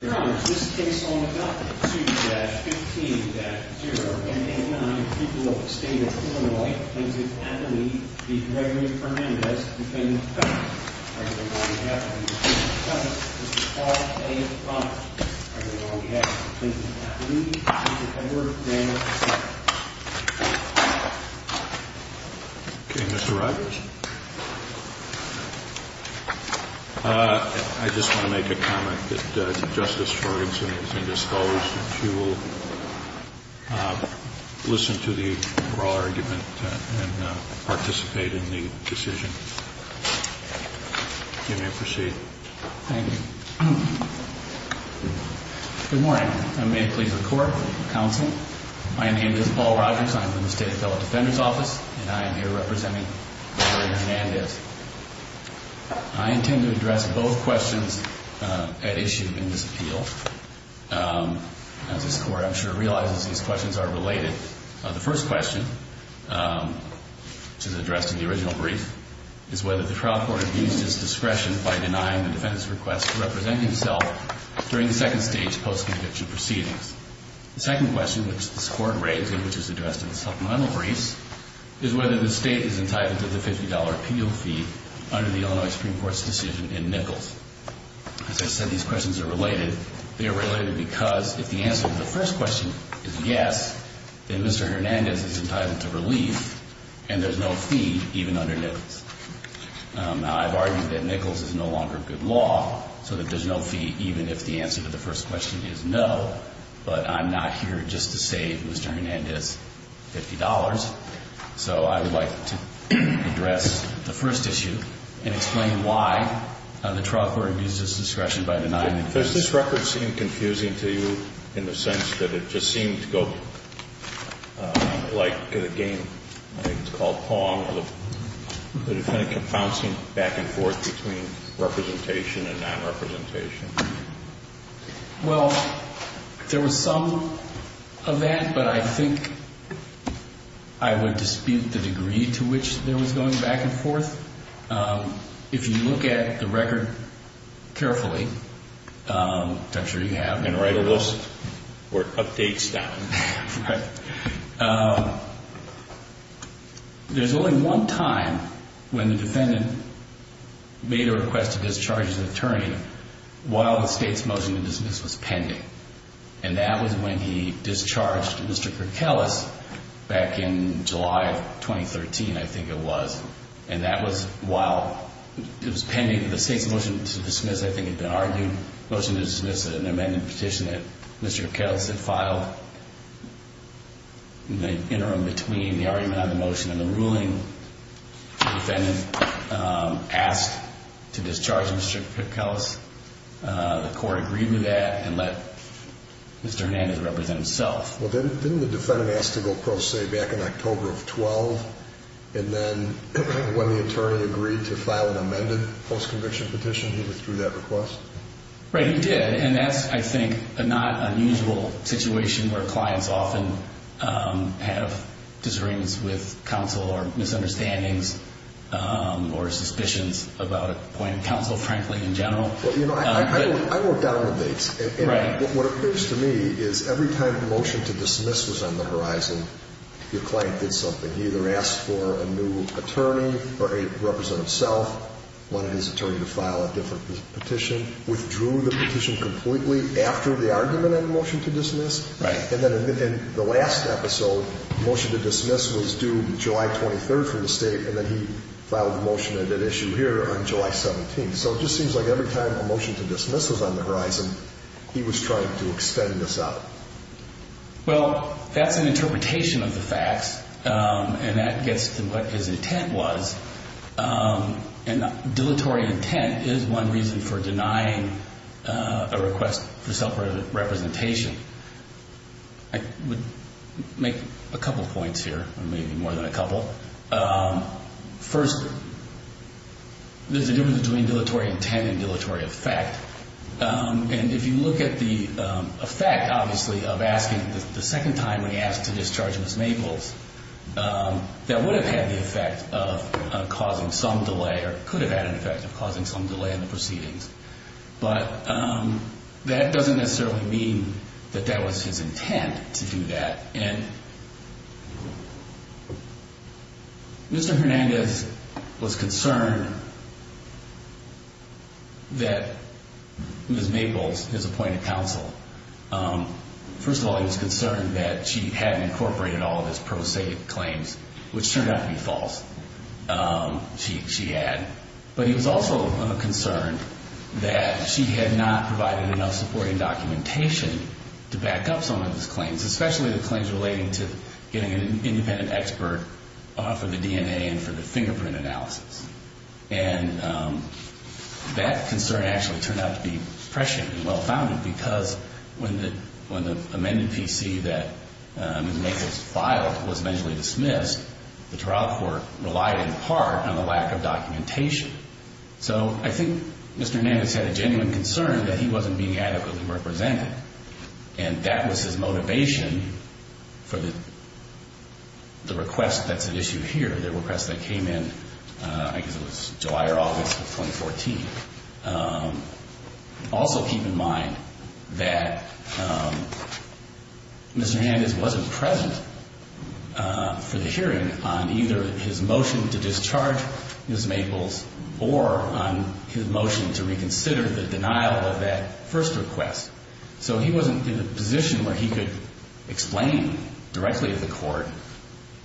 Mr. Rogers, this case on adopted 2-15-0 and 8-9 of the people of the state of Illinois, Plaintiff Appellee v. Gregory Hernandez, defendant of felony. On behalf of the defendant's cousin, Mr. Paul A. Conner, on behalf of Plaintiff Appellee, Mr. Edward Daniels, defendant. Okay, Mr. Rogers. I just want to make a comment that Justice Sjogrenson is indisclosed. She will listen to the oral argument and participate in the decision. You may proceed. Thank you. Good morning. I may please record the counsel. My name is Paul Rogers. I'm from the State Appellate Defender's Office, and I am here representing Gregory Hernandez. I intend to address both questions at issue in this appeal. As this Court, I'm sure, realizes these questions are related. The first question, which is addressed in the original brief, is whether the trial court abused its discretion by denying the defendant's request to represent himself during the second stage post-conviction proceedings. The second question, which this Court raises, which is addressed in the supplemental briefs, is whether the State is entitled to the $50 appeal fee under the Illinois Supreme Court's decision in Nichols. As I said, these questions are related. They are related because if the answer to the first question is yes, then Mr. Hernandez is entitled to relief, and there's no fee even under Nichols. Now, I've argued that Nichols is no longer good law, so that there's no fee even if the answer to the first question is no, but I'm not here just to say Mr. Hernandez, $50. So I would like to address the first issue and explain why the trial court abused its discretion by denying it. Does this record seem confusing to you in the sense that it just seemed to go like the game, I think it's called pong, or the defendant kept bouncing back and forth between representation and nonrepresentation? Well, there was some of that, but I think I would dispute the degree to which there was going back and forth. If you look at the record carefully, I'm sure you have. And write a list or updates down. There's only one time when the defendant made a request to discharge his attorney while the state's motion to dismiss was pending, and that was when he discharged Mr. Kerkelis back in July of 2013, I think it was. And that was while it was pending the state's motion to dismiss, I think it had been argued, the motion to dismiss is an amended petition that Mr. Kerkelis had filed in the interim between the argument on the motion and the ruling the defendant asked to discharge Mr. Kerkelis. The court agreed to that and let Mr. Hernandez represent himself. Well, didn't the defendant ask to go pro se back in October of 12, and then when the attorney agreed to file an amended post-conviction petition, he withdrew that request? Right, he did, and that's, I think, a not unusual situation where clients often have disagreements with counsel or misunderstandings or suspicions about appointing counsel, frankly, in general. Well, you know, I wrote down the dates. Right. What occurs to me is every time a motion to dismiss was on the horizon, your client did something. He either asked for a new attorney or a representative himself, wanted his attorney to file a different petition, withdrew the petition completely after the argument on the motion to dismiss. Right. And then in the last episode, the motion to dismiss was due July 23rd from the state, and then he filed the motion at issue here on July 17th. So it just seems like every time a motion to dismiss was on the horizon, he was trying to extend this out. Well, that's an interpretation of the facts, and that gets to what his intent was, and dilatory intent is one reason for denying a request for self-representation. I would make a couple points here, or maybe more than a couple. First, there's a difference between dilatory intent and dilatory effect. And if you look at the effect, obviously, of asking the second time when he asked to discharge Ms. Maples, that would have had the effect of causing some delay or could have had an effect of causing some delay in the proceedings. But that doesn't necessarily mean that that was his intent to do that. And Mr. Hernandez was concerned that Ms. Maples, his appointed counsel, first of all, he was concerned that she hadn't incorporated all of his pro se claims, which turned out to be false. She had. But he was also concerned that she had not provided enough supporting documentation to back up some of his claims, especially the claims relating to getting an independent expert for the DNA and for the fingerprint analysis. And that concern actually turned out to be prescient and well-founded because when the amended PC that Ms. Maples filed was eventually dismissed, the trial court relied in part on the lack of documentation. So I think Mr. Hernandez had a genuine concern that he wasn't being adequately represented, and that was his motivation for the request that's at issue here, the request that came in, I guess it was July or August of 2014. Also keep in mind that Mr. Hernandez wasn't present for the hearing on either his motion to discharge Ms. Maples or on his motion to reconsider the denial of that first request. So he wasn't in a position where he could explain directly to the court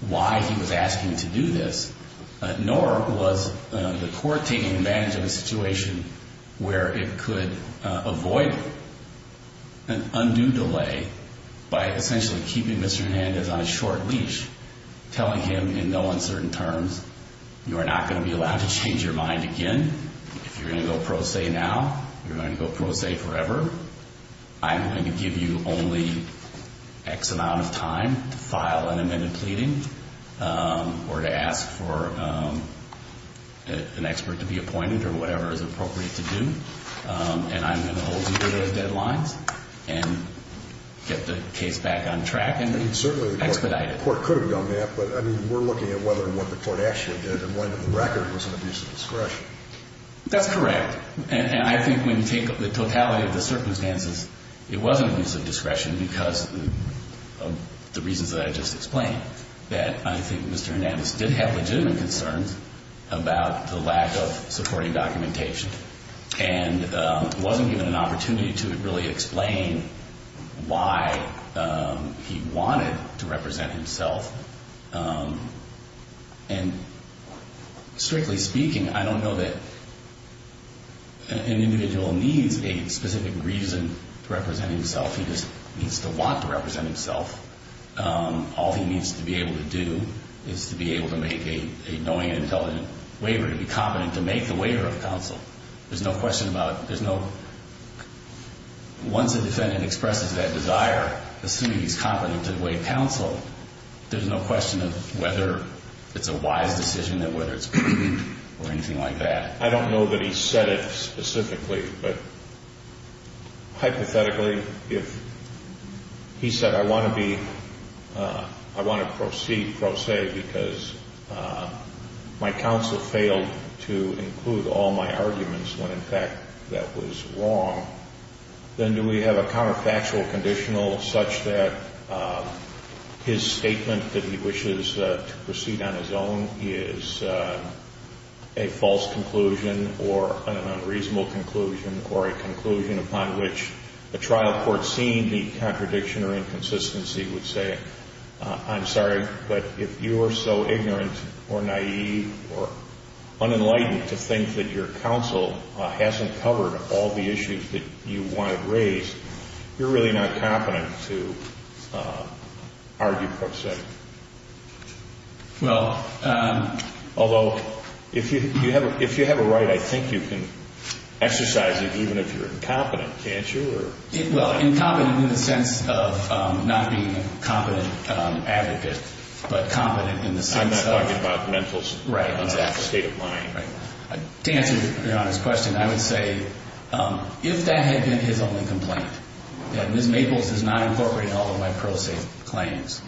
why he was asking to do this, nor was the court taking advantage of a situation where it could avoid an undue delay by essentially keeping Mr. Hernandez on a short leash, telling him in no uncertain terms, you are not going to be allowed to change your mind again. If you're going to go pro se now, you're going to go pro se forever. I'm going to give you only X amount of time to file an amended pleading or to ask for an expert to be appointed or whatever is appropriate to do, and I'm going to hold you to those deadlines and get the case back on track and expedite it. The court could have done that, but, I mean, we're looking at whether what the court actually did and when in the record was an abuse of discretion. That's correct, and I think when you take the totality of the circumstances, it wasn't an abuse of discretion because of the reasons that I just explained, that I think Mr. Hernandez did have legitimate concerns about the lack of supporting documentation and wasn't given an opportunity to really explain why he wanted to represent himself. And strictly speaking, I don't know that an individual needs a specific reason to represent himself. He just needs to want to represent himself. All he needs to be able to do is to be able to make a knowing and intelligent waiver, to be competent to make the waiver of counsel. There's no question about it. Once a defendant expresses that desire, assuming he's competent to waive counsel, there's no question of whether it's a wise decision or whether it's proven or anything like that. I don't know that he said it specifically, but hypothetically, if he said, I want to be, I want to proceed, pro se, because my counsel failed to include all my arguments when in fact that was wrong, then do we have a counterfactual conditional such that his statement that he wishes to proceed on his own is a false conclusion or an unreasonable conclusion or a conclusion upon which a trial court seeing the contradiction or inconsistency would say, I'm sorry, but if you are so ignorant or naive or unenlightened to think that your counsel hasn't covered all the issues that you want to raise, you're really not competent to argue pro se. Well, although if you have a right, I think you can exercise it even if you're incompetent, can't you? Well, incompetent in the sense of not being a competent advocate, but competent in the sense of I'm not talking about mental state of mind. To answer Your Honor's question, I would say if that had been his only complaint, that Ms. Maples is not incorporating all of my pro se claims,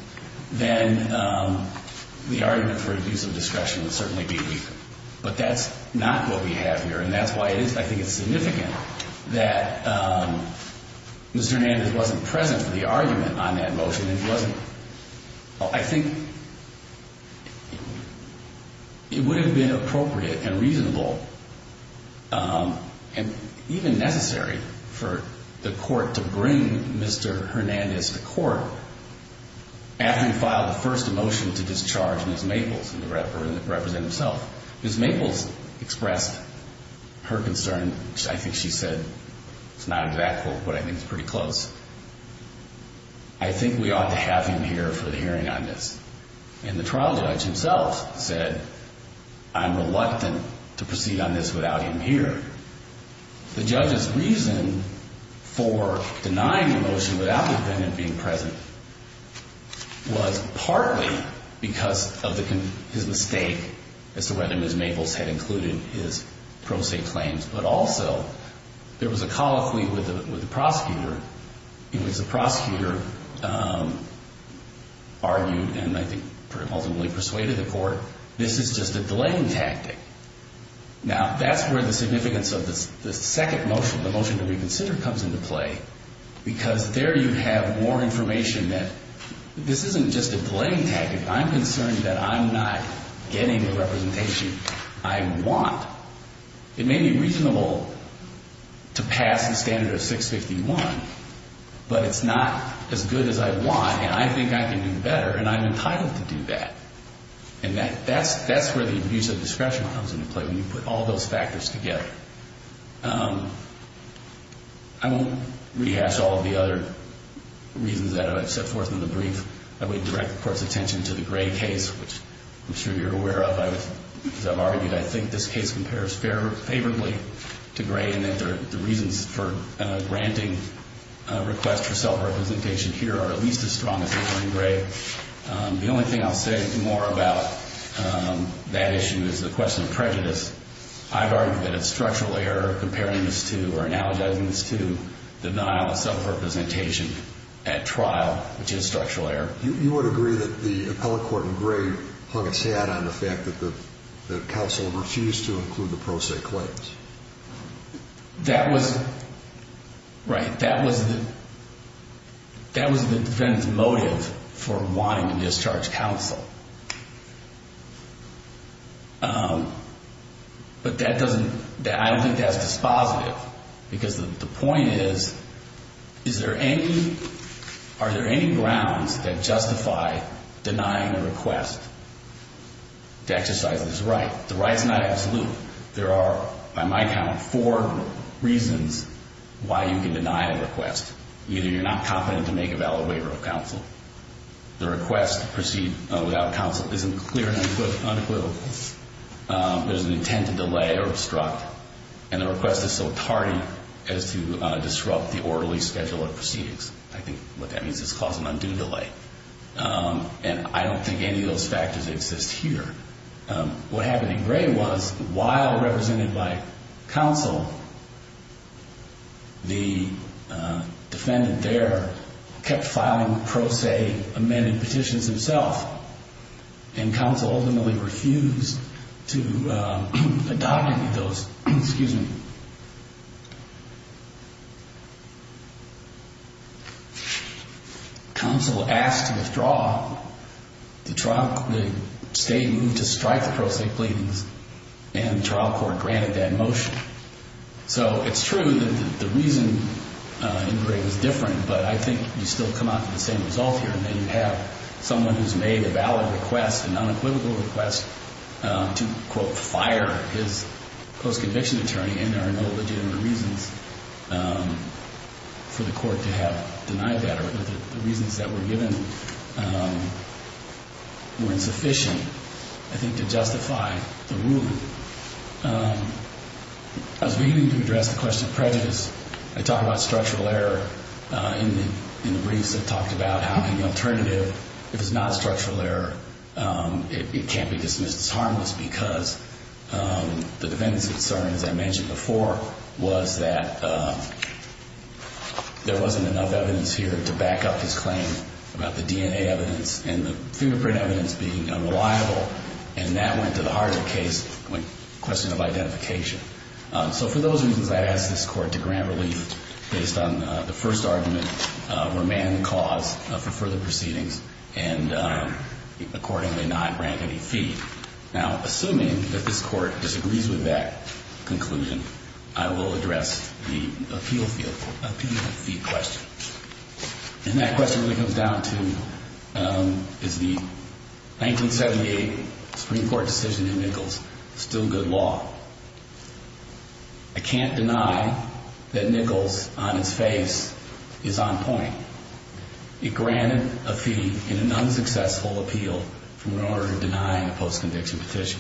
then the argument for abuse of discretion would certainly be weak. But that's not what we have here. And that's why I think it's significant that Mr. Nandis wasn't present for the argument on that motion. I think it would have been appropriate and reasonable and even necessary for the court to bring Mr. Hernandez to court after he filed the first motion to discharge Ms. Maples and represent himself. Ms. Maples expressed her concern. I think she said, it's not exact, but I think it's pretty close. I think we ought to have him here for the hearing on this. And the trial judge himself said, I'm reluctant to proceed on this without him here. The judge's reason for denying the motion without the defendant being present was partly because of his mistake as to whether Ms. Maples had included his pro se claims, but also there was a colloquy with the prosecutor in which the prosecutor argued and I think ultimately persuaded the court, this is just a delaying tactic. Now, that's where the significance of the second motion, the motion to reconsider, comes into play, because there you have more information that this isn't just a delaying tactic. I'm concerned that I'm not getting the representation I want. It may be reasonable to pass the standard of 651, but it's not as good as I want, and I think I can do better, and I'm entitled to do that. And that's where the abuse of discretion comes into play when you put all those factors together. I won't rehash all of the other reasons that I've set forth in the brief. I would direct the court's attention to the Gray case, which I'm sure you're aware of. As I've argued, I think this case compares favorably to Gray in that the reasons for granting a request for self-representation here are at least as strong as in Gray. The only thing I'll say more about that issue is the question of prejudice. I've argued that it's structural error comparing this to or analogizing this to denial of self-representation at trial, which is structural error. You would agree that the appellate court in Gray hung its hat on the fact that the counsel refused to include the pro se claims. That was the defendant's motive for wanting to discharge counsel, but I don't think that's dispositive because the point is, are there any grounds that justify denying a request to exercise this right? The right is not absolute. There are, by my count, four reasons why you can deny a request. Either you're not competent to make a valid waiver of counsel, the request to proceed without counsel isn't clear and unequivocal, there's an intent to delay or obstruct, and the request is so tardy as to disrupt the orderly schedule of proceedings. I think what that means is cause an undue delay, and I don't think any of those factors exist here. What happened in Gray was, while represented by counsel, the defendant there kept filing pro se amended petitions himself, and counsel ultimately refused to adopt any of those. Excuse me. Counsel asked to withdraw the state move to strike the pro se claims, and the trial court granted that motion. So it's true that the reason in Gray was different, but I think you still come out with the same result here, and then you have someone who's made a valid request, a non-equivocal request to, quote, fire his post-conviction attorney, and there are no legitimate reasons for the court to have denied that, or the reasons that were given were insufficient, I think, to justify the ruling. As we begin to address the question of prejudice, I talk about structural error in the briefs that talked about how the alternative, if it's not structural error, it can't be dismissed as harmless because the defendant's concern, as I mentioned before, was that there wasn't enough evidence here to back up his claim about the DNA evidence and the fingerprint evidence being unreliable, and that went to the heart of the case, the question of identification. So for those reasons, I ask this court to grant relief based on the first argument, remand the cause for further proceedings, and accordingly not grant any fee. Now, assuming that this court disagrees with that conclusion, I will address the appeal fee question, and that question really comes down to, is the 1978 Supreme Court decision in Nichols still good law? I can't deny that Nichols, on its face, is on point. It granted a fee in an unsuccessful appeal in order to deny a post-conviction petition.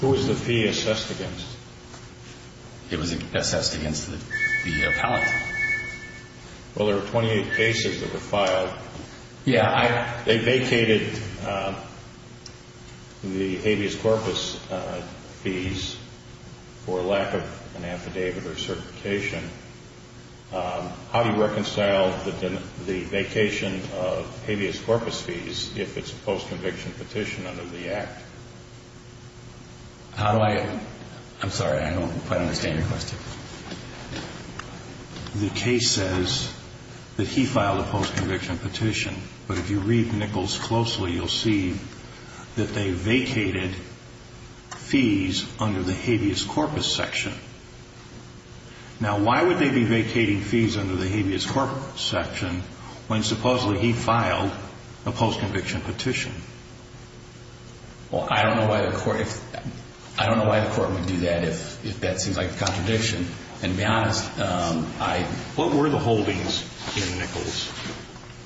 Who was the fee assessed against? It was assessed against the appellant. They vacated the habeas corpus fees for lack of an affidavit or certification. How do you reconcile the vacation of habeas corpus fees if it's a post-conviction petition under the Act? How do I? I'm sorry, I don't quite understand your question. The case says that he filed a post-conviction petition, but if you read Nichols closely, you'll see that they vacated fees under the habeas corpus section. Now, why would they be vacating fees under the habeas corpus section when supposedly he filed a post-conviction petition? Well, I don't know why the court would do that if that seems like a contradiction. And to be honest, I... What were the holdings in Nichols?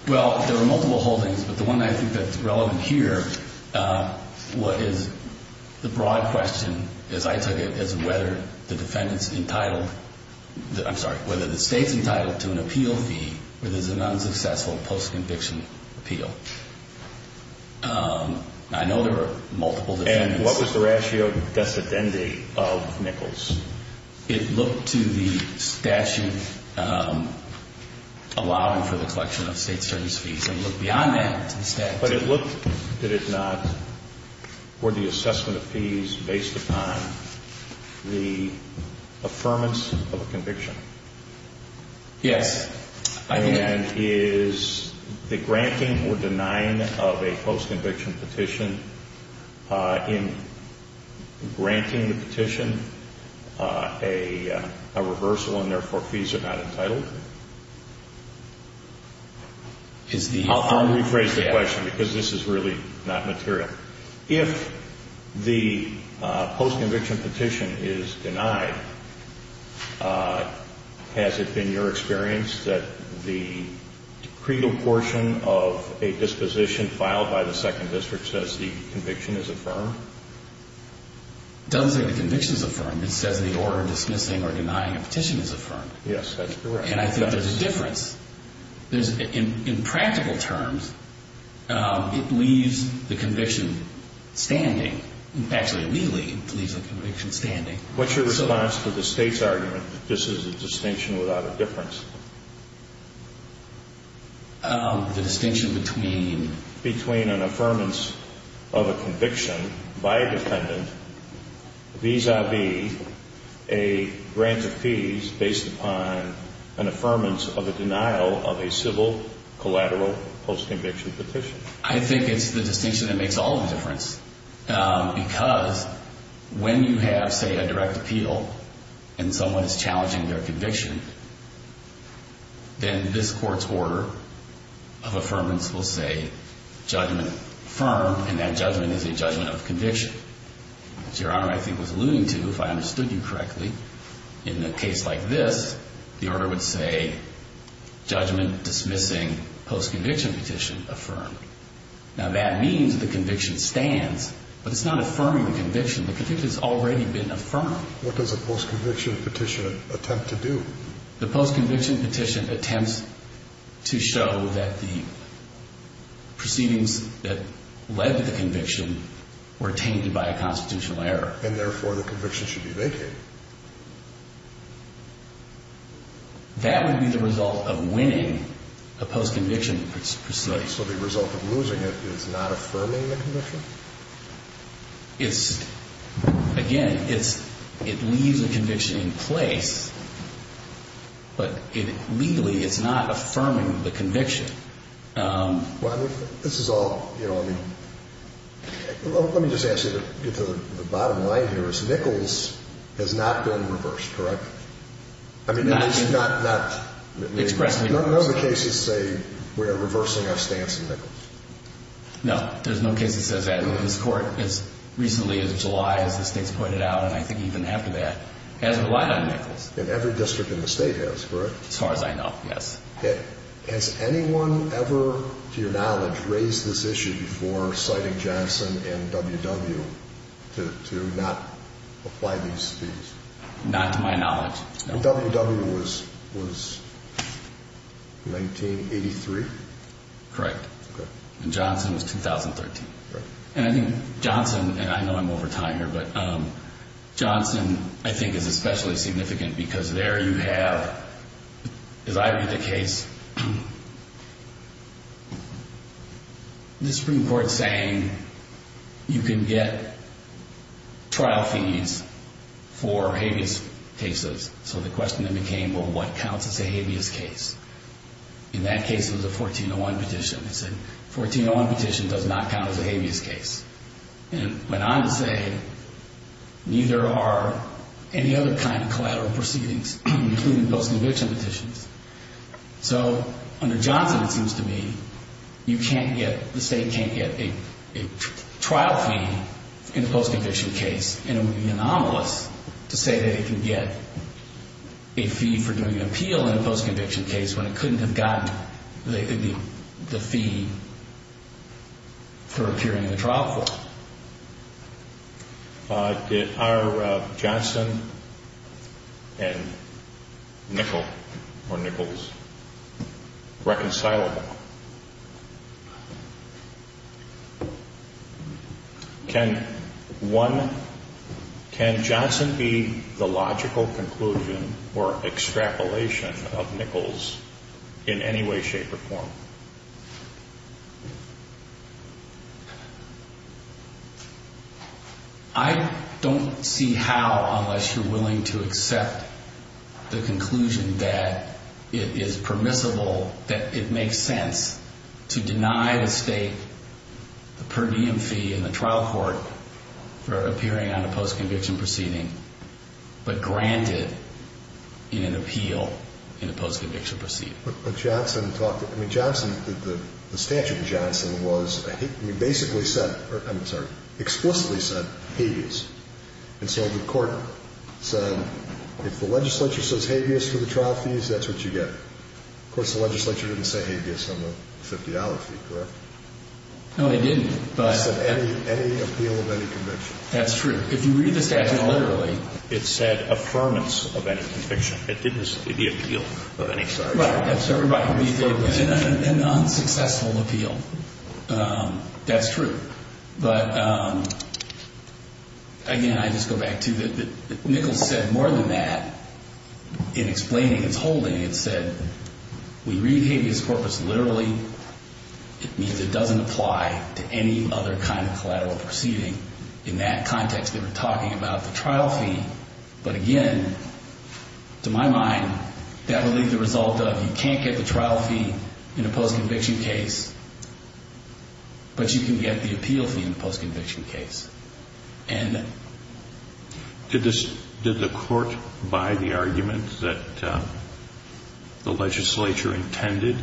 Well, there were multiple holdings, but the one I think that's relevant here, what is the broad question, as I took it, is whether the defendant's entitled, I'm sorry, whether the state's entitled to an appeal fee where there's an unsuccessful post-conviction appeal. I know there were multiple defendants. And what was the ratio decedendi of Nichols? It looked to the statute allowing for the collection of state service fees. It looked beyond that to the statute. But it looked, did it not, were the assessment of fees based upon the affirmance of a conviction? Yes. And is the granting or denying of a post-conviction petition, in granting the petition a reversal and therefore fees are not entitled? I'll rephrase the question because this is really not material. If the post-conviction petition is denied, has it been your experience that the credal portion of a disposition filed by the Second District says the conviction is affirmed? It doesn't say the conviction is affirmed. It says the order dismissing or denying a petition is affirmed. Yes, that's correct. And I think there's a difference. In practical terms, it leaves the conviction standing. Actually, legally, it leaves the conviction standing. What's your response to the state's argument that this is a distinction without a difference? The distinction between? Between an affirmance of a conviction by a defendant vis-a-vis a grant of fees based upon an affirmance of a denial of a civil collateral post-conviction petition. I think it's the distinction that makes all the difference because when you have, say, a direct appeal and someone is challenging their conviction, then this court's order of affirmance will say judgment affirmed and that judgment is a judgment of conviction. As Your Honor, I think, was alluding to, if I understood you correctly, in a case like this, the order would say judgment dismissing post-conviction petition affirmed. Now, that means the conviction stands, but it's not affirming the conviction. The conviction has already been affirmed. What does a post-conviction petition attempt to do? The post-conviction petition attempts to show that the proceedings that led to the conviction were tainted by a constitutional error. And therefore, the conviction should be vacated. That would be the result of winning a post-conviction petition. So the result of losing it is not affirming the conviction? It's, again, it leaves the conviction in place, but legally it's not affirming the conviction. Well, I mean, this is all, you know, I mean, let me just ask you to get to the bottom line here, is Nichols has not been reversed, correct? I mean, it's not... Expressedly reversed. None of the cases say we are reversing our stance on Nichols. No, there's no case that says that. This court, as recently as July, as the state's pointed out, and I think even after that, hasn't relied on Nichols. And every district in the state has, correct? As far as I know, yes. Has anyone ever, to your knowledge, raised this issue before citing Johnson and W.W. to not apply these things? Not to my knowledge, no. W.W. was 1983? Correct. And Johnson was 2013. And I think Johnson, and I know I'm over time here, but Johnson, I think, is especially significant because there you have, as I read the case, the Supreme Court saying you can get trial fees for habeas cases. So the question then became, well, what counts as a habeas case? In that case, it was a 1401 petition. It said, 1401 petition does not count as a habeas case. And it went on to say, neither are any other kind of collateral proceedings, including post-conviction petitions. So under Johnson, it seems to me, you can't get, the state can't get a trial fee in a post-conviction case, and it would be anomalous to say that it can get a fee for doing an appeal in a post-conviction case when it couldn't have gotten the fee for appearing in the trial form. Are Johnson and Nichols reconcilable? Can Johnson be the logical conclusion or extrapolation of Nichols in any way, shape, or form? I don't see how, unless you're willing to accept the conclusion that it is permissible, that it makes sense to deny the state the per diem fee in the trial court for appearing on a post-conviction proceeding, but grant it in an appeal in a post-conviction proceeding. But Johnson talked, I mean, Johnson, the statute in Johnson was, basically said, I'm sorry, explicitly said habeas. And so the court said, if the legislature says habeas for the trial fees, that's what you get. Of course, the legislature didn't say habeas on the $50 fee, correct? No, they didn't. It said any appeal of any conviction. That's true. If you read the statute literally, it said affirmance of any conviction. It didn't say the appeal of any conviction. It was an unsuccessful appeal. That's true. But, again, I just go back to, Nichols said more than that. In explaining his holding, it said, we read habeas corpus literally. It means it doesn't apply to any other kind of collateral proceeding. In that context, they were talking about the trial fee. But, again, to my mind, that would leave the result of, you can't get the trial fee in a post-conviction case, but you can get the appeal fee in a post-conviction case. Did the court buy the argument that the legislature intended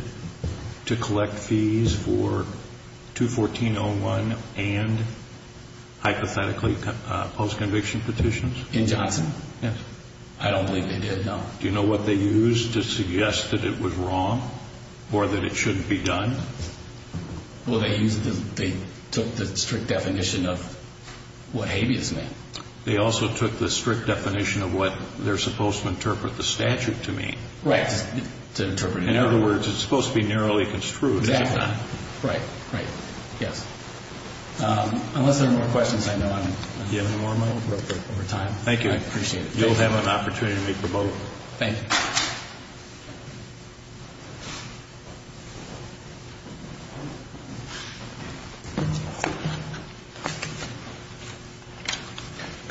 to collect fees for 214-01 and, hypothetically, post-conviction petitions? In Johnson? Yes. I don't believe they did, no. Do you know what they used to suggest that it was wrong or that it shouldn't be done? Well, they took the strict definition of what habeas meant. They also took the strict definition of what they're supposed to interpret the statute to mean. Right. In other words, it's supposed to be narrowly construed. Exactly. Right. Right. Yes. Unless there are more questions, I know I'm running out of time. Thank you. I appreciate it. You'll have an opportunity to make a vote. Thank you.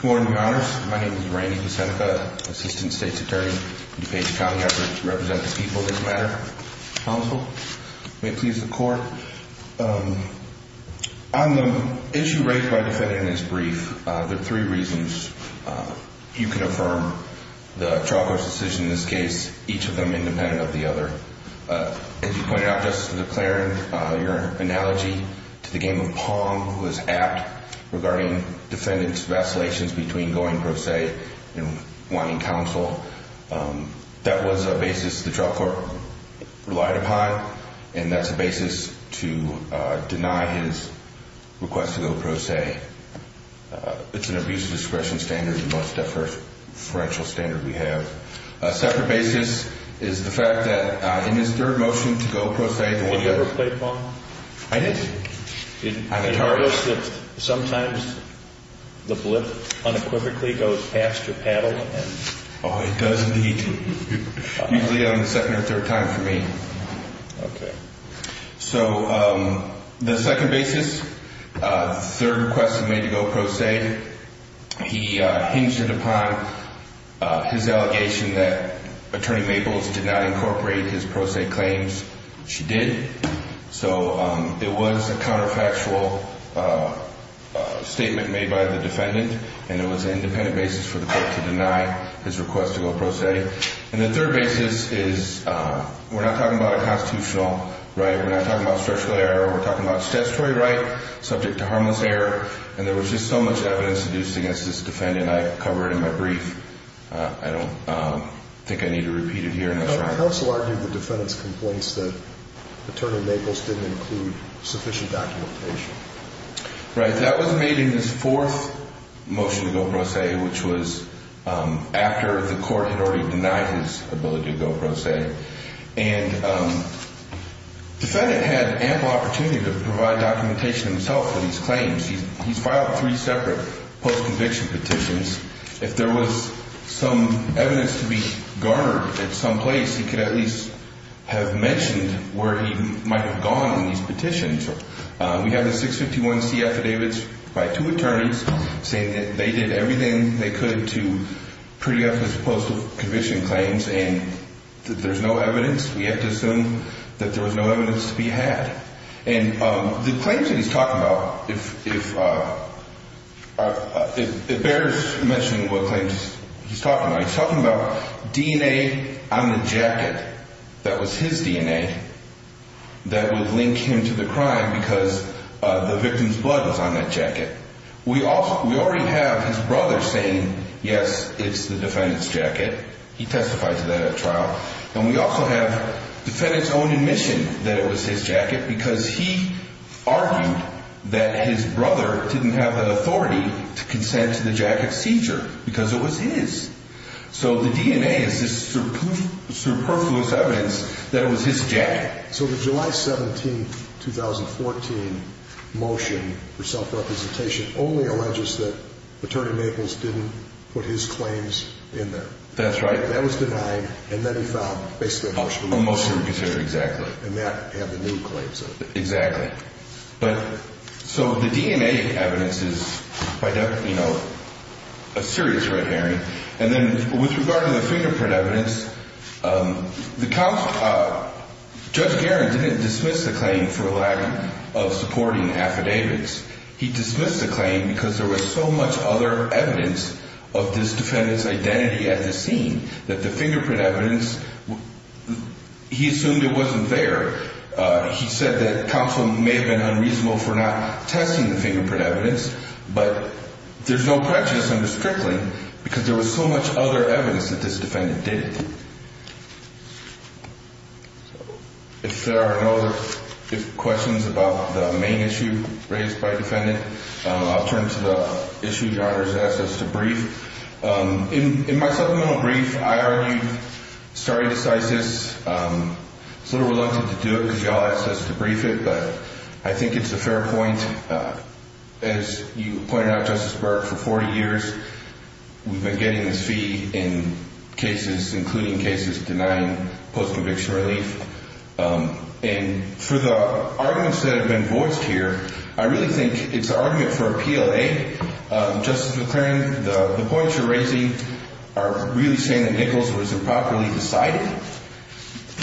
Good morning, Your Honors. My name is Randy Busenica, Assistant State's Attorney for DuPage County. I represent the people of this matter. Counsel. May it please the Court. On the issue raised by the defendant in this brief, there are three reasons you can affirm the trial court's decision in this case, each of them independent of the other. As you pointed out, Justice DeClarin, your analogy to the game of Pong was apt regarding defendant's vacillations between going pro se and wanting counsel. That was a basis the trial court relied upon, and that's a basis to deny his request to go pro se. It's an abuse of discretion standard, the most deferential standard we have. A separate basis is the fact that in his third motion to go pro se. Did you ever play Pong? I did. Did you notice that sometimes the blip unequivocally goes past your paddle? Oh, it does need to be on the second or third time for me. Okay. So the second basis, third request made to go pro se. He hinged it upon his allegation that Attorney Maples did not incorporate his pro se claims. She did. So it was a counterfactual statement made by the defendant, and it was an independent basis for the court to deny his request to go pro se. And the third basis is we're not talking about a constitutional right. We're not talking about a structural error. We're talking about a statutory right subject to harmless error, and there was just so much evidence seduced against this defendant. I covered it in my brief. I don't think I need to repeat it here. Counsel argued the defendant's complaints that Attorney Maples didn't include sufficient documentation. Right. That was made in his fourth motion to go pro se, which was after the court had already denied his ability to go pro se. And the defendant had ample opportunity to provide documentation himself for these claims. He's filed three separate post-conviction petitions. If there was some evidence to be garnered at some place, he could at least have mentioned where he might have gone in these petitions. We have the 651C affidavits by two attorneys saying that they did everything they could to preempt his post-conviction claims and that there's no evidence. We have to assume that there was no evidence to be had. And the claims that he's talking about, if bears mentioning what claims he's talking about, he's talking about DNA on the jacket that was his DNA that would link him to the crime because the victim's blood was on that jacket. We already have his brother saying, yes, it's the defendant's jacket. He testified to that at trial. And we also have the defendant's own admission that it was his jacket because he argued that his brother didn't have the authority to consent to the jacket seizure because it was his. So the DNA is this superfluous evidence that it was his jacket. So the July 17, 2014, motion for self-representation only alleges that Attorney Maples didn't put his claims in there. That's right. That was denied, and then he filed basically a motion. A motion to reconsider, exactly. And that had the new claims of it. Exactly. So the DNA evidence is, you know, a serious red herring. And then with regard to the fingerprint evidence, Judge Garin didn't dismiss the claim for lack of supporting affidavits. He dismissed the claim because there was so much other evidence of this defendant's identity at the scene that the fingerprint evidence, he assumed it wasn't there. He said that counsel may have been unreasonable for not testing the fingerprint evidence, but there's no prejudice under Strickling because there was so much other evidence that this defendant did it. If there are no other questions about the main issue raised by defendant, I'll turn to the issue you asked us to brief. In my supplemental brief, I argued stare decisis. I was a little reluctant to do it because you all asked us to brief it, but I think it's a fair point. As you pointed out, Justice Burke, for 40 years we've been getting this fee in cases, including cases denying post-conviction relief. And for the arguments that have been voiced here, I really think it's an argument for a PLA. Justice McClain, the points you're raising are really saying that Nichols was improperly decided.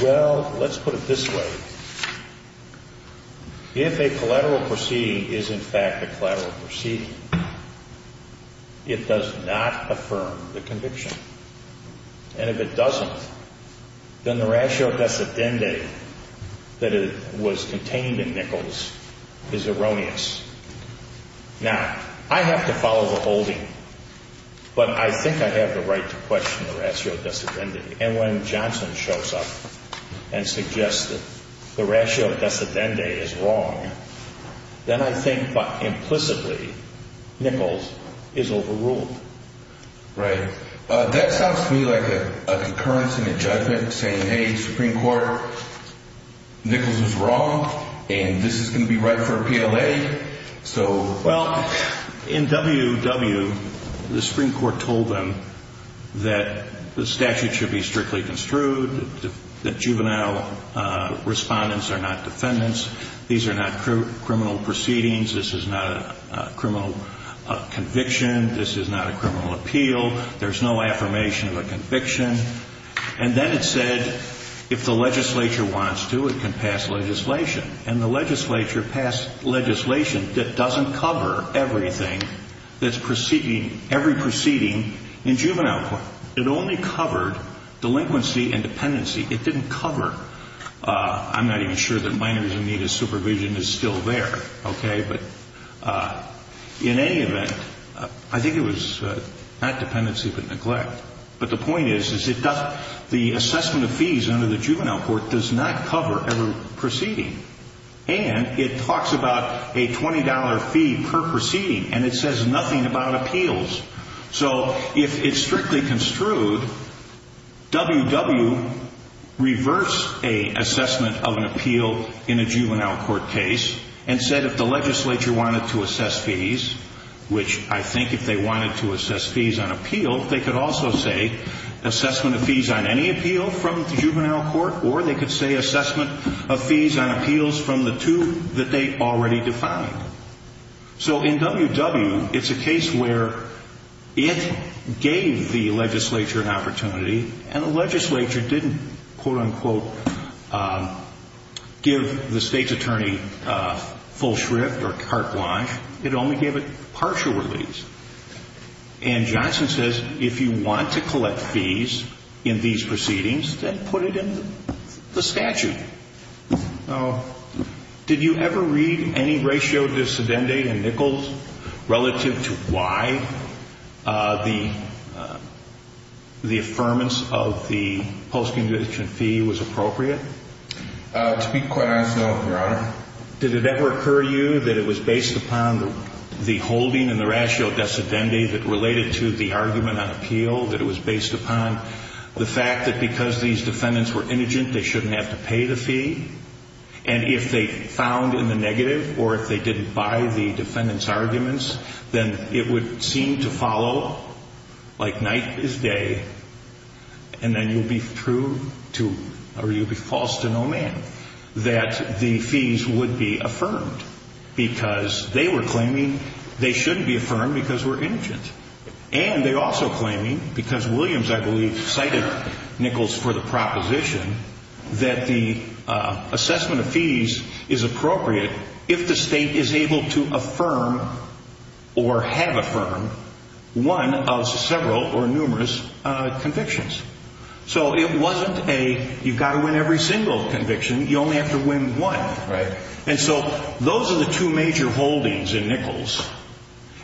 Well, let's put it this way. If a collateral proceeding is, in fact, a collateral proceeding, it does not affirm the conviction. And if it doesn't, then the ratio decedende that it was contained in Nichols is erroneous. Now, I have to follow the holding, but I think I have the right to question the ratio decedende. And when Johnson shows up and suggests that the ratio decedende is wrong, then I think implicitly Nichols is overruled. Right. That sounds to me like a concurrence in a judgment saying, hey, Supreme Court, Nichols was wrong and this is going to be right for a PLA. Well, in WW, the Supreme Court told them that the statute should be strictly construed, that juvenile respondents are not defendants, these are not criminal proceedings, this is not a criminal conviction, this is not a criminal appeal, there's no affirmation of a conviction. And then it said if the legislature wants to, it can pass legislation. And the legislature passed legislation that doesn't cover everything that's proceeding, every proceeding in juvenile court. It only covered delinquency and dependency. It didn't cover, I'm not even sure that minors in need of supervision is still there, okay? But in any event, I think it was not dependency but neglect. But the point is, the assessment of fees under the juvenile court does not cover every proceeding. And it talks about a $20 fee per proceeding and it says nothing about appeals. So if it's strictly construed, WW reverts an assessment of an appeal in a juvenile court case and said if the legislature wanted to assess fees, which I think if they wanted to assess fees on appeal, they could also say assessment of fees on any appeal from the juvenile court or they could say assessment of fees on appeals from the two that they already defined. So in WW, it's a case where it gave the legislature an opportunity and the legislature didn't, quote, unquote, give the state's attorney full shrift or carte blanche. It only gave it partial release. And Johnson says if you want to collect fees in these proceedings, then put it in the statute. Now, did you ever read any ratio de sedenda in Nichols relative to why the the affirmance of the post-condition fee was appropriate? To be quite honest, no, Your Honor. Did it ever occur to you that it was based upon the holding and the ratio de sedenda that related to the argument on appeal, that it was based upon the fact that because these defendants were indigent, they shouldn't have to pay the fee? And if they found in the negative or if they didn't buy the defendant's arguments, then it would seem to follow like night is day and then you'll be true to or you'll be false to no man, that the fees would be affirmed because they were claiming they shouldn't be affirmed because we're indigent. And they're also claiming, because Williams, I believe, cited Nichols for the proposition, that the assessment of fees is appropriate if the state is able to affirm or have affirmed one of several or numerous convictions. So it wasn't a you've got to win every single conviction. You only have to win one. Right. And so those are the two major holdings in Nichols.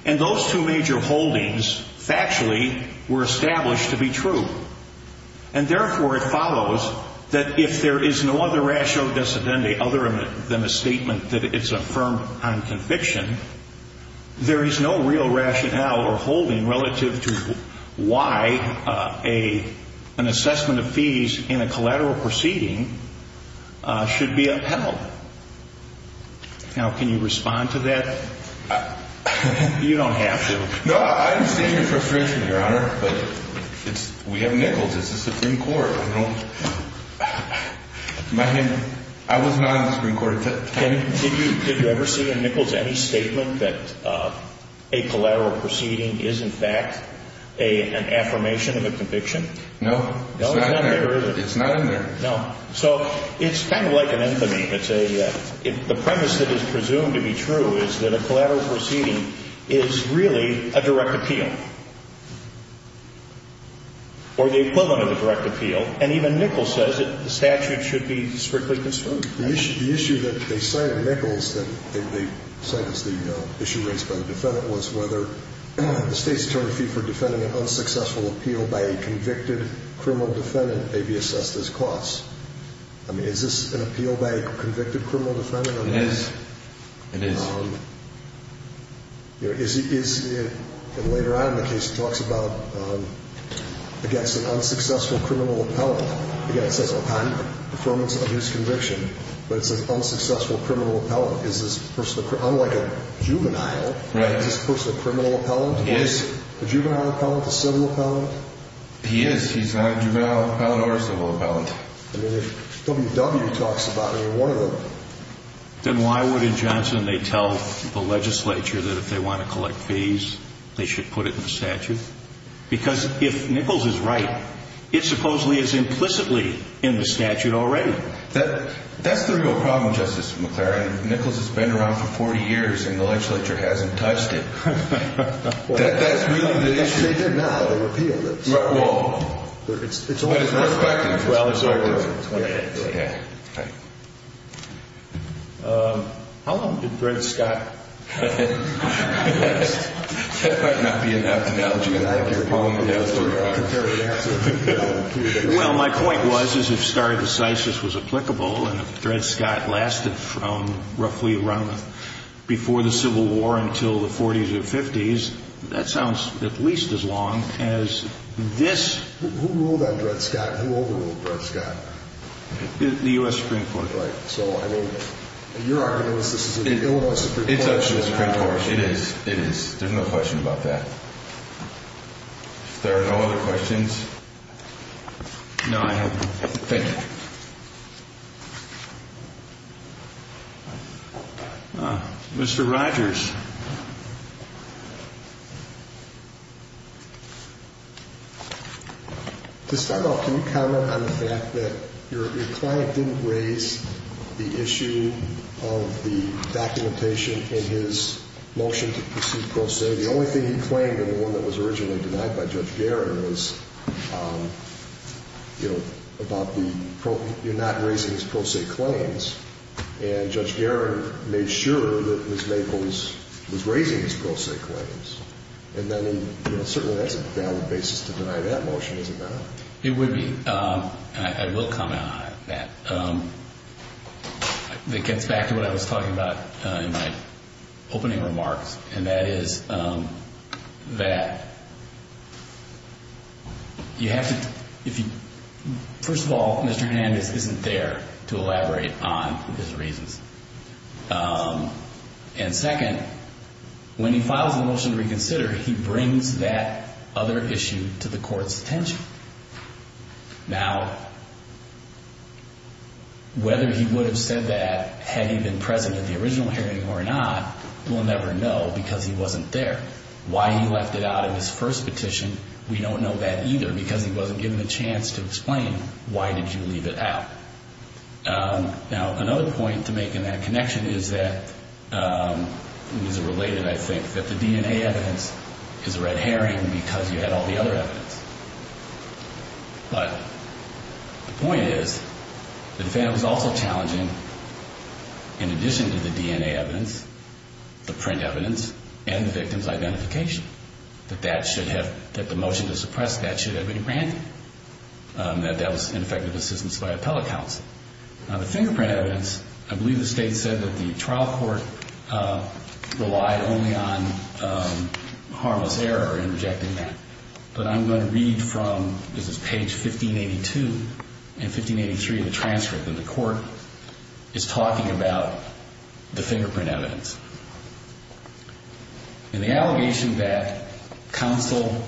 And those two major holdings factually were established to be true. And therefore, it follows that if there is no other ratio de sedenda other than a statement that it's affirmed on conviction, there is no real rationale or holding relative to why an assessment of fees in a collateral proceeding should be upheld. Now, can you respond to that? You don't have to. No, I understand your frustration, Your Honor, but we have Nichols. It's the Supreme Court. I was not in the Supreme Court. Did you ever see in Nichols any statement that a collateral proceeding is, in fact, an affirmation of a conviction? No. It's not in there. No. So it's kind of like an infamy. The premise that is presumed to be true is that a collateral proceeding is really a direct appeal or the equivalent of a direct appeal. And even Nichols says that the statute should be strictly construed. The issue that they cite in Nichols that they cite as the issue raised by the defendant was whether the State's attorney fee for defending an unsuccessful appeal by a convicted criminal defendant may be assessed as costs. I mean, is this an appeal by a convicted criminal defendant? It is. It is. And later on in the case, it talks about against an unsuccessful criminal appellate, again, it says append, affirmance of his conviction, but it says unsuccessful criminal appellate. Is this person, unlike a juvenile, is this person a criminal appellate? He is. A juvenile appellate? A civil appellate? He is. He's not a juvenile appellate or a civil appellate. I mean, if W.W. talks about any one of them. Then why would in Johnson they tell the legislature that if they want to collect fees, they should put it in the statute? Because if Nichols is right, it supposedly is implicitly in the statute already. That's the real problem, Justice McClary. Nichols has been around for 40 years, and the legislature hasn't touched it. That's really the issue. They did now. They repealed it. Well, it's always worth questioning. Well, it's always worth questioning. How long did Brent Scott last? That might not be an analogy. Well, my point was, as if stare decisis was applicable, and if Brent Scott lasted from roughly around before the Civil War until the 40s or 50s, that sounds at least as long as this. Who ruled on Brent Scott? Who overruled Brent Scott? The U.S. Supreme Court. Right. So, I mean, your argument is this is an Illinois Supreme Court. It's a U.S. Supreme Court. It is. It is. There's no question about that. If there are no other questions. No, I have none. Thank you. Mr. Rogers. To start off, can you comment on the fact that your client didn't raise the issue of the documentation in his motion to proceed pro se? The only thing he claimed in the one that was originally denied by Judge Guerin was, you know, about the, you're not raising his pro se claims. And Judge Guerin made sure that Ms. Maples was raising his pro se claims. And then, you know, certainly that's a valid basis to deny that motion, is it not? It would be. And I will comment on that. That gets back to what I was talking about in my opening remarks, and that is that you have to, if you, first of all, Mr. Hernandez isn't there to elaborate on his reasons. And second, when he files a motion to reconsider, he brings that other issue to the court's attention. Now, whether he would have said that had he been present at the original hearing or not, we'll never know because he wasn't there. Why he left it out in his first petition, we don't know that either because he wasn't given a chance to explain why did you leave it out. Now, another point to make in that connection is that, these are related, I think, that the DNA evidence is red herring because you had all the other evidence. But the point is, the defendant was also challenging, in addition to the DNA evidence, the print evidence, and the victim's identification. That that should have, that the motion to suppress that should have been granted. That that was ineffective assistance by appellate counsel. Now, the fingerprint evidence, I believe the state said that the trial court relied only on harmless error in rejecting that. But I'm going to read from, this is page 1582 and 1583 of the transcript, and the court is talking about the fingerprint evidence. In the allegation that counsel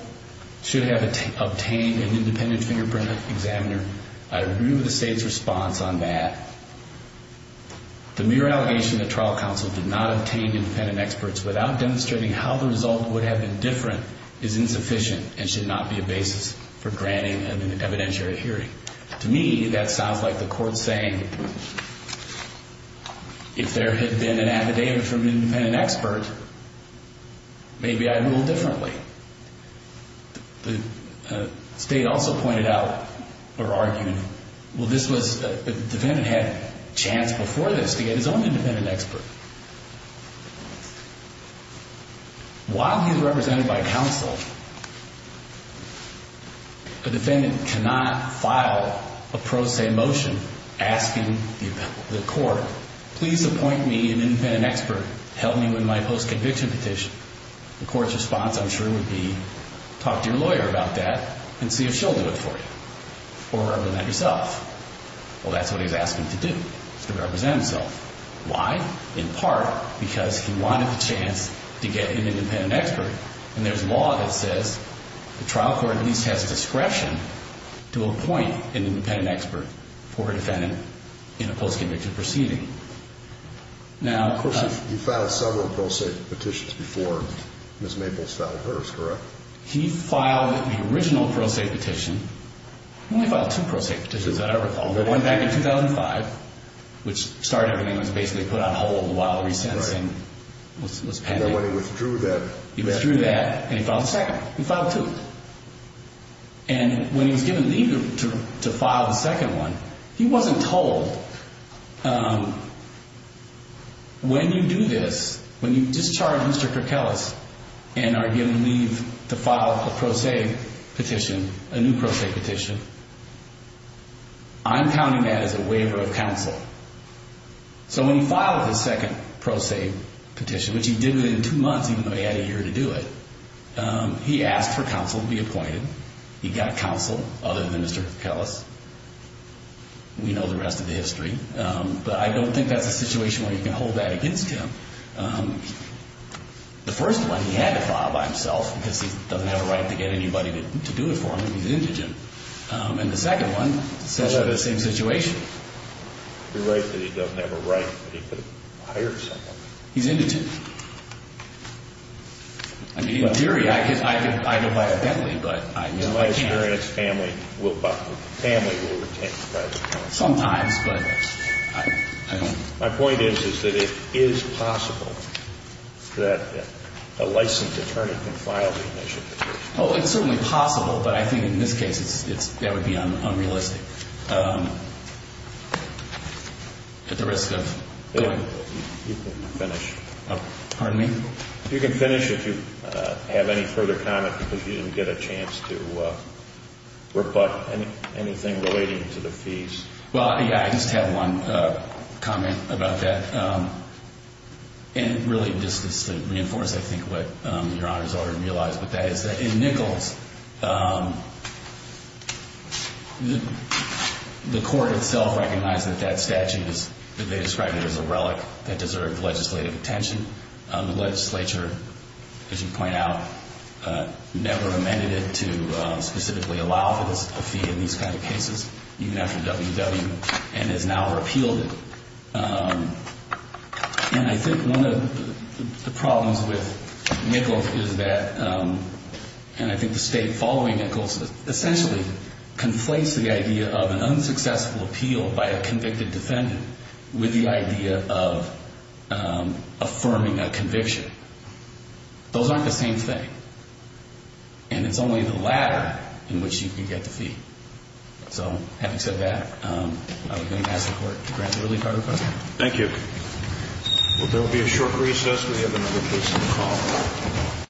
should have obtained an independent fingerprint examiner, I agree with the state's response on that. The mere allegation that trial counsel did not obtain independent experts without demonstrating how the result would have been different is insufficient and should not be a basis for granting an evidentiary hearing. To me, that sounds like the court saying, if there had been an affidavit from an independent expert, maybe I'd rule differently. The state also pointed out, or argued, well, this was, the defendant had a chance before this to get his own independent expert. While he was represented by counsel, the defendant cannot file a pro se motion asking the court, please appoint me an independent expert to help me with my post-conviction petition. The court's response, I'm sure, would be, talk to your lawyer about that and see if she'll do it for you, or represent yourself. Well, that's what he's asking to do, is to represent himself. Why? In part, because he wanted the chance to get an independent expert. And there's law that says the trial court at least has discretion to appoint an independent expert for a defendant in a post-conviction proceeding. He filed several pro se petitions before Ms. Maples filed hers, correct? He filed the original pro se petition. He only filed two pro se petitions, if I recall. One back in 2005, which started everything, was basically put on hold while recensing was pending. And then when he withdrew that... He withdrew that, and he filed a second. He filed two. And when he was given leave to file the second one, he wasn't told, when you do this, when you discharge Mr. Kerkelis and are given leave to file a pro se petition, a new pro se petition, I'm counting that as a waiver of counsel. So when he filed his second pro se petition, which he did within two months, even though he had a year to do it, he asked for counsel to be appointed. He got counsel, other than Mr. Kerkelis. We know the rest of the history. But I don't think that's a situation where you can hold that against him. The first one, he had to file by himself, because he doesn't have a right to get anybody to do it for him, and he's indigent. And the second one, essentially the same situation. You're right that he doesn't have a right, but he could have hired someone. He's indigent. I mean, in theory, I could file it by a family, but I know I can't. In my experience, family will retain the right of counsel. Sometimes, but I don't... My point is, is that it is possible that a licensed attorney can file the initial petition. Oh, it's certainly possible, but I think in this case, that would be unrealistic. At the risk of... You can finish. Pardon me? You can finish if you have any further comment, because you didn't get a chance to reflect anything relating to the fees. Well, yeah, I just have one comment about that. And really, just to reinforce, I think, what Your Honor has already realized, but that is that in Nichols, the court itself recognized that that statute, that they described it as a relic that deserved legislative attention. The legislature, as you point out, never amended it to specifically allow a fee in these kind of cases, even after WW, and has now repealed it. And I think one of the problems with Nichols is that, and I think the state following Nichols essentially conflates the idea of an unsuccessful appeal by a convicted defendant with the idea of affirming a conviction. Those aren't the same thing, and it's only the latter in which you can get the fee. So, having said that, I would ask the court to grant the ruling by request. Thank you. Well, there will be a short recess. We have another case to call.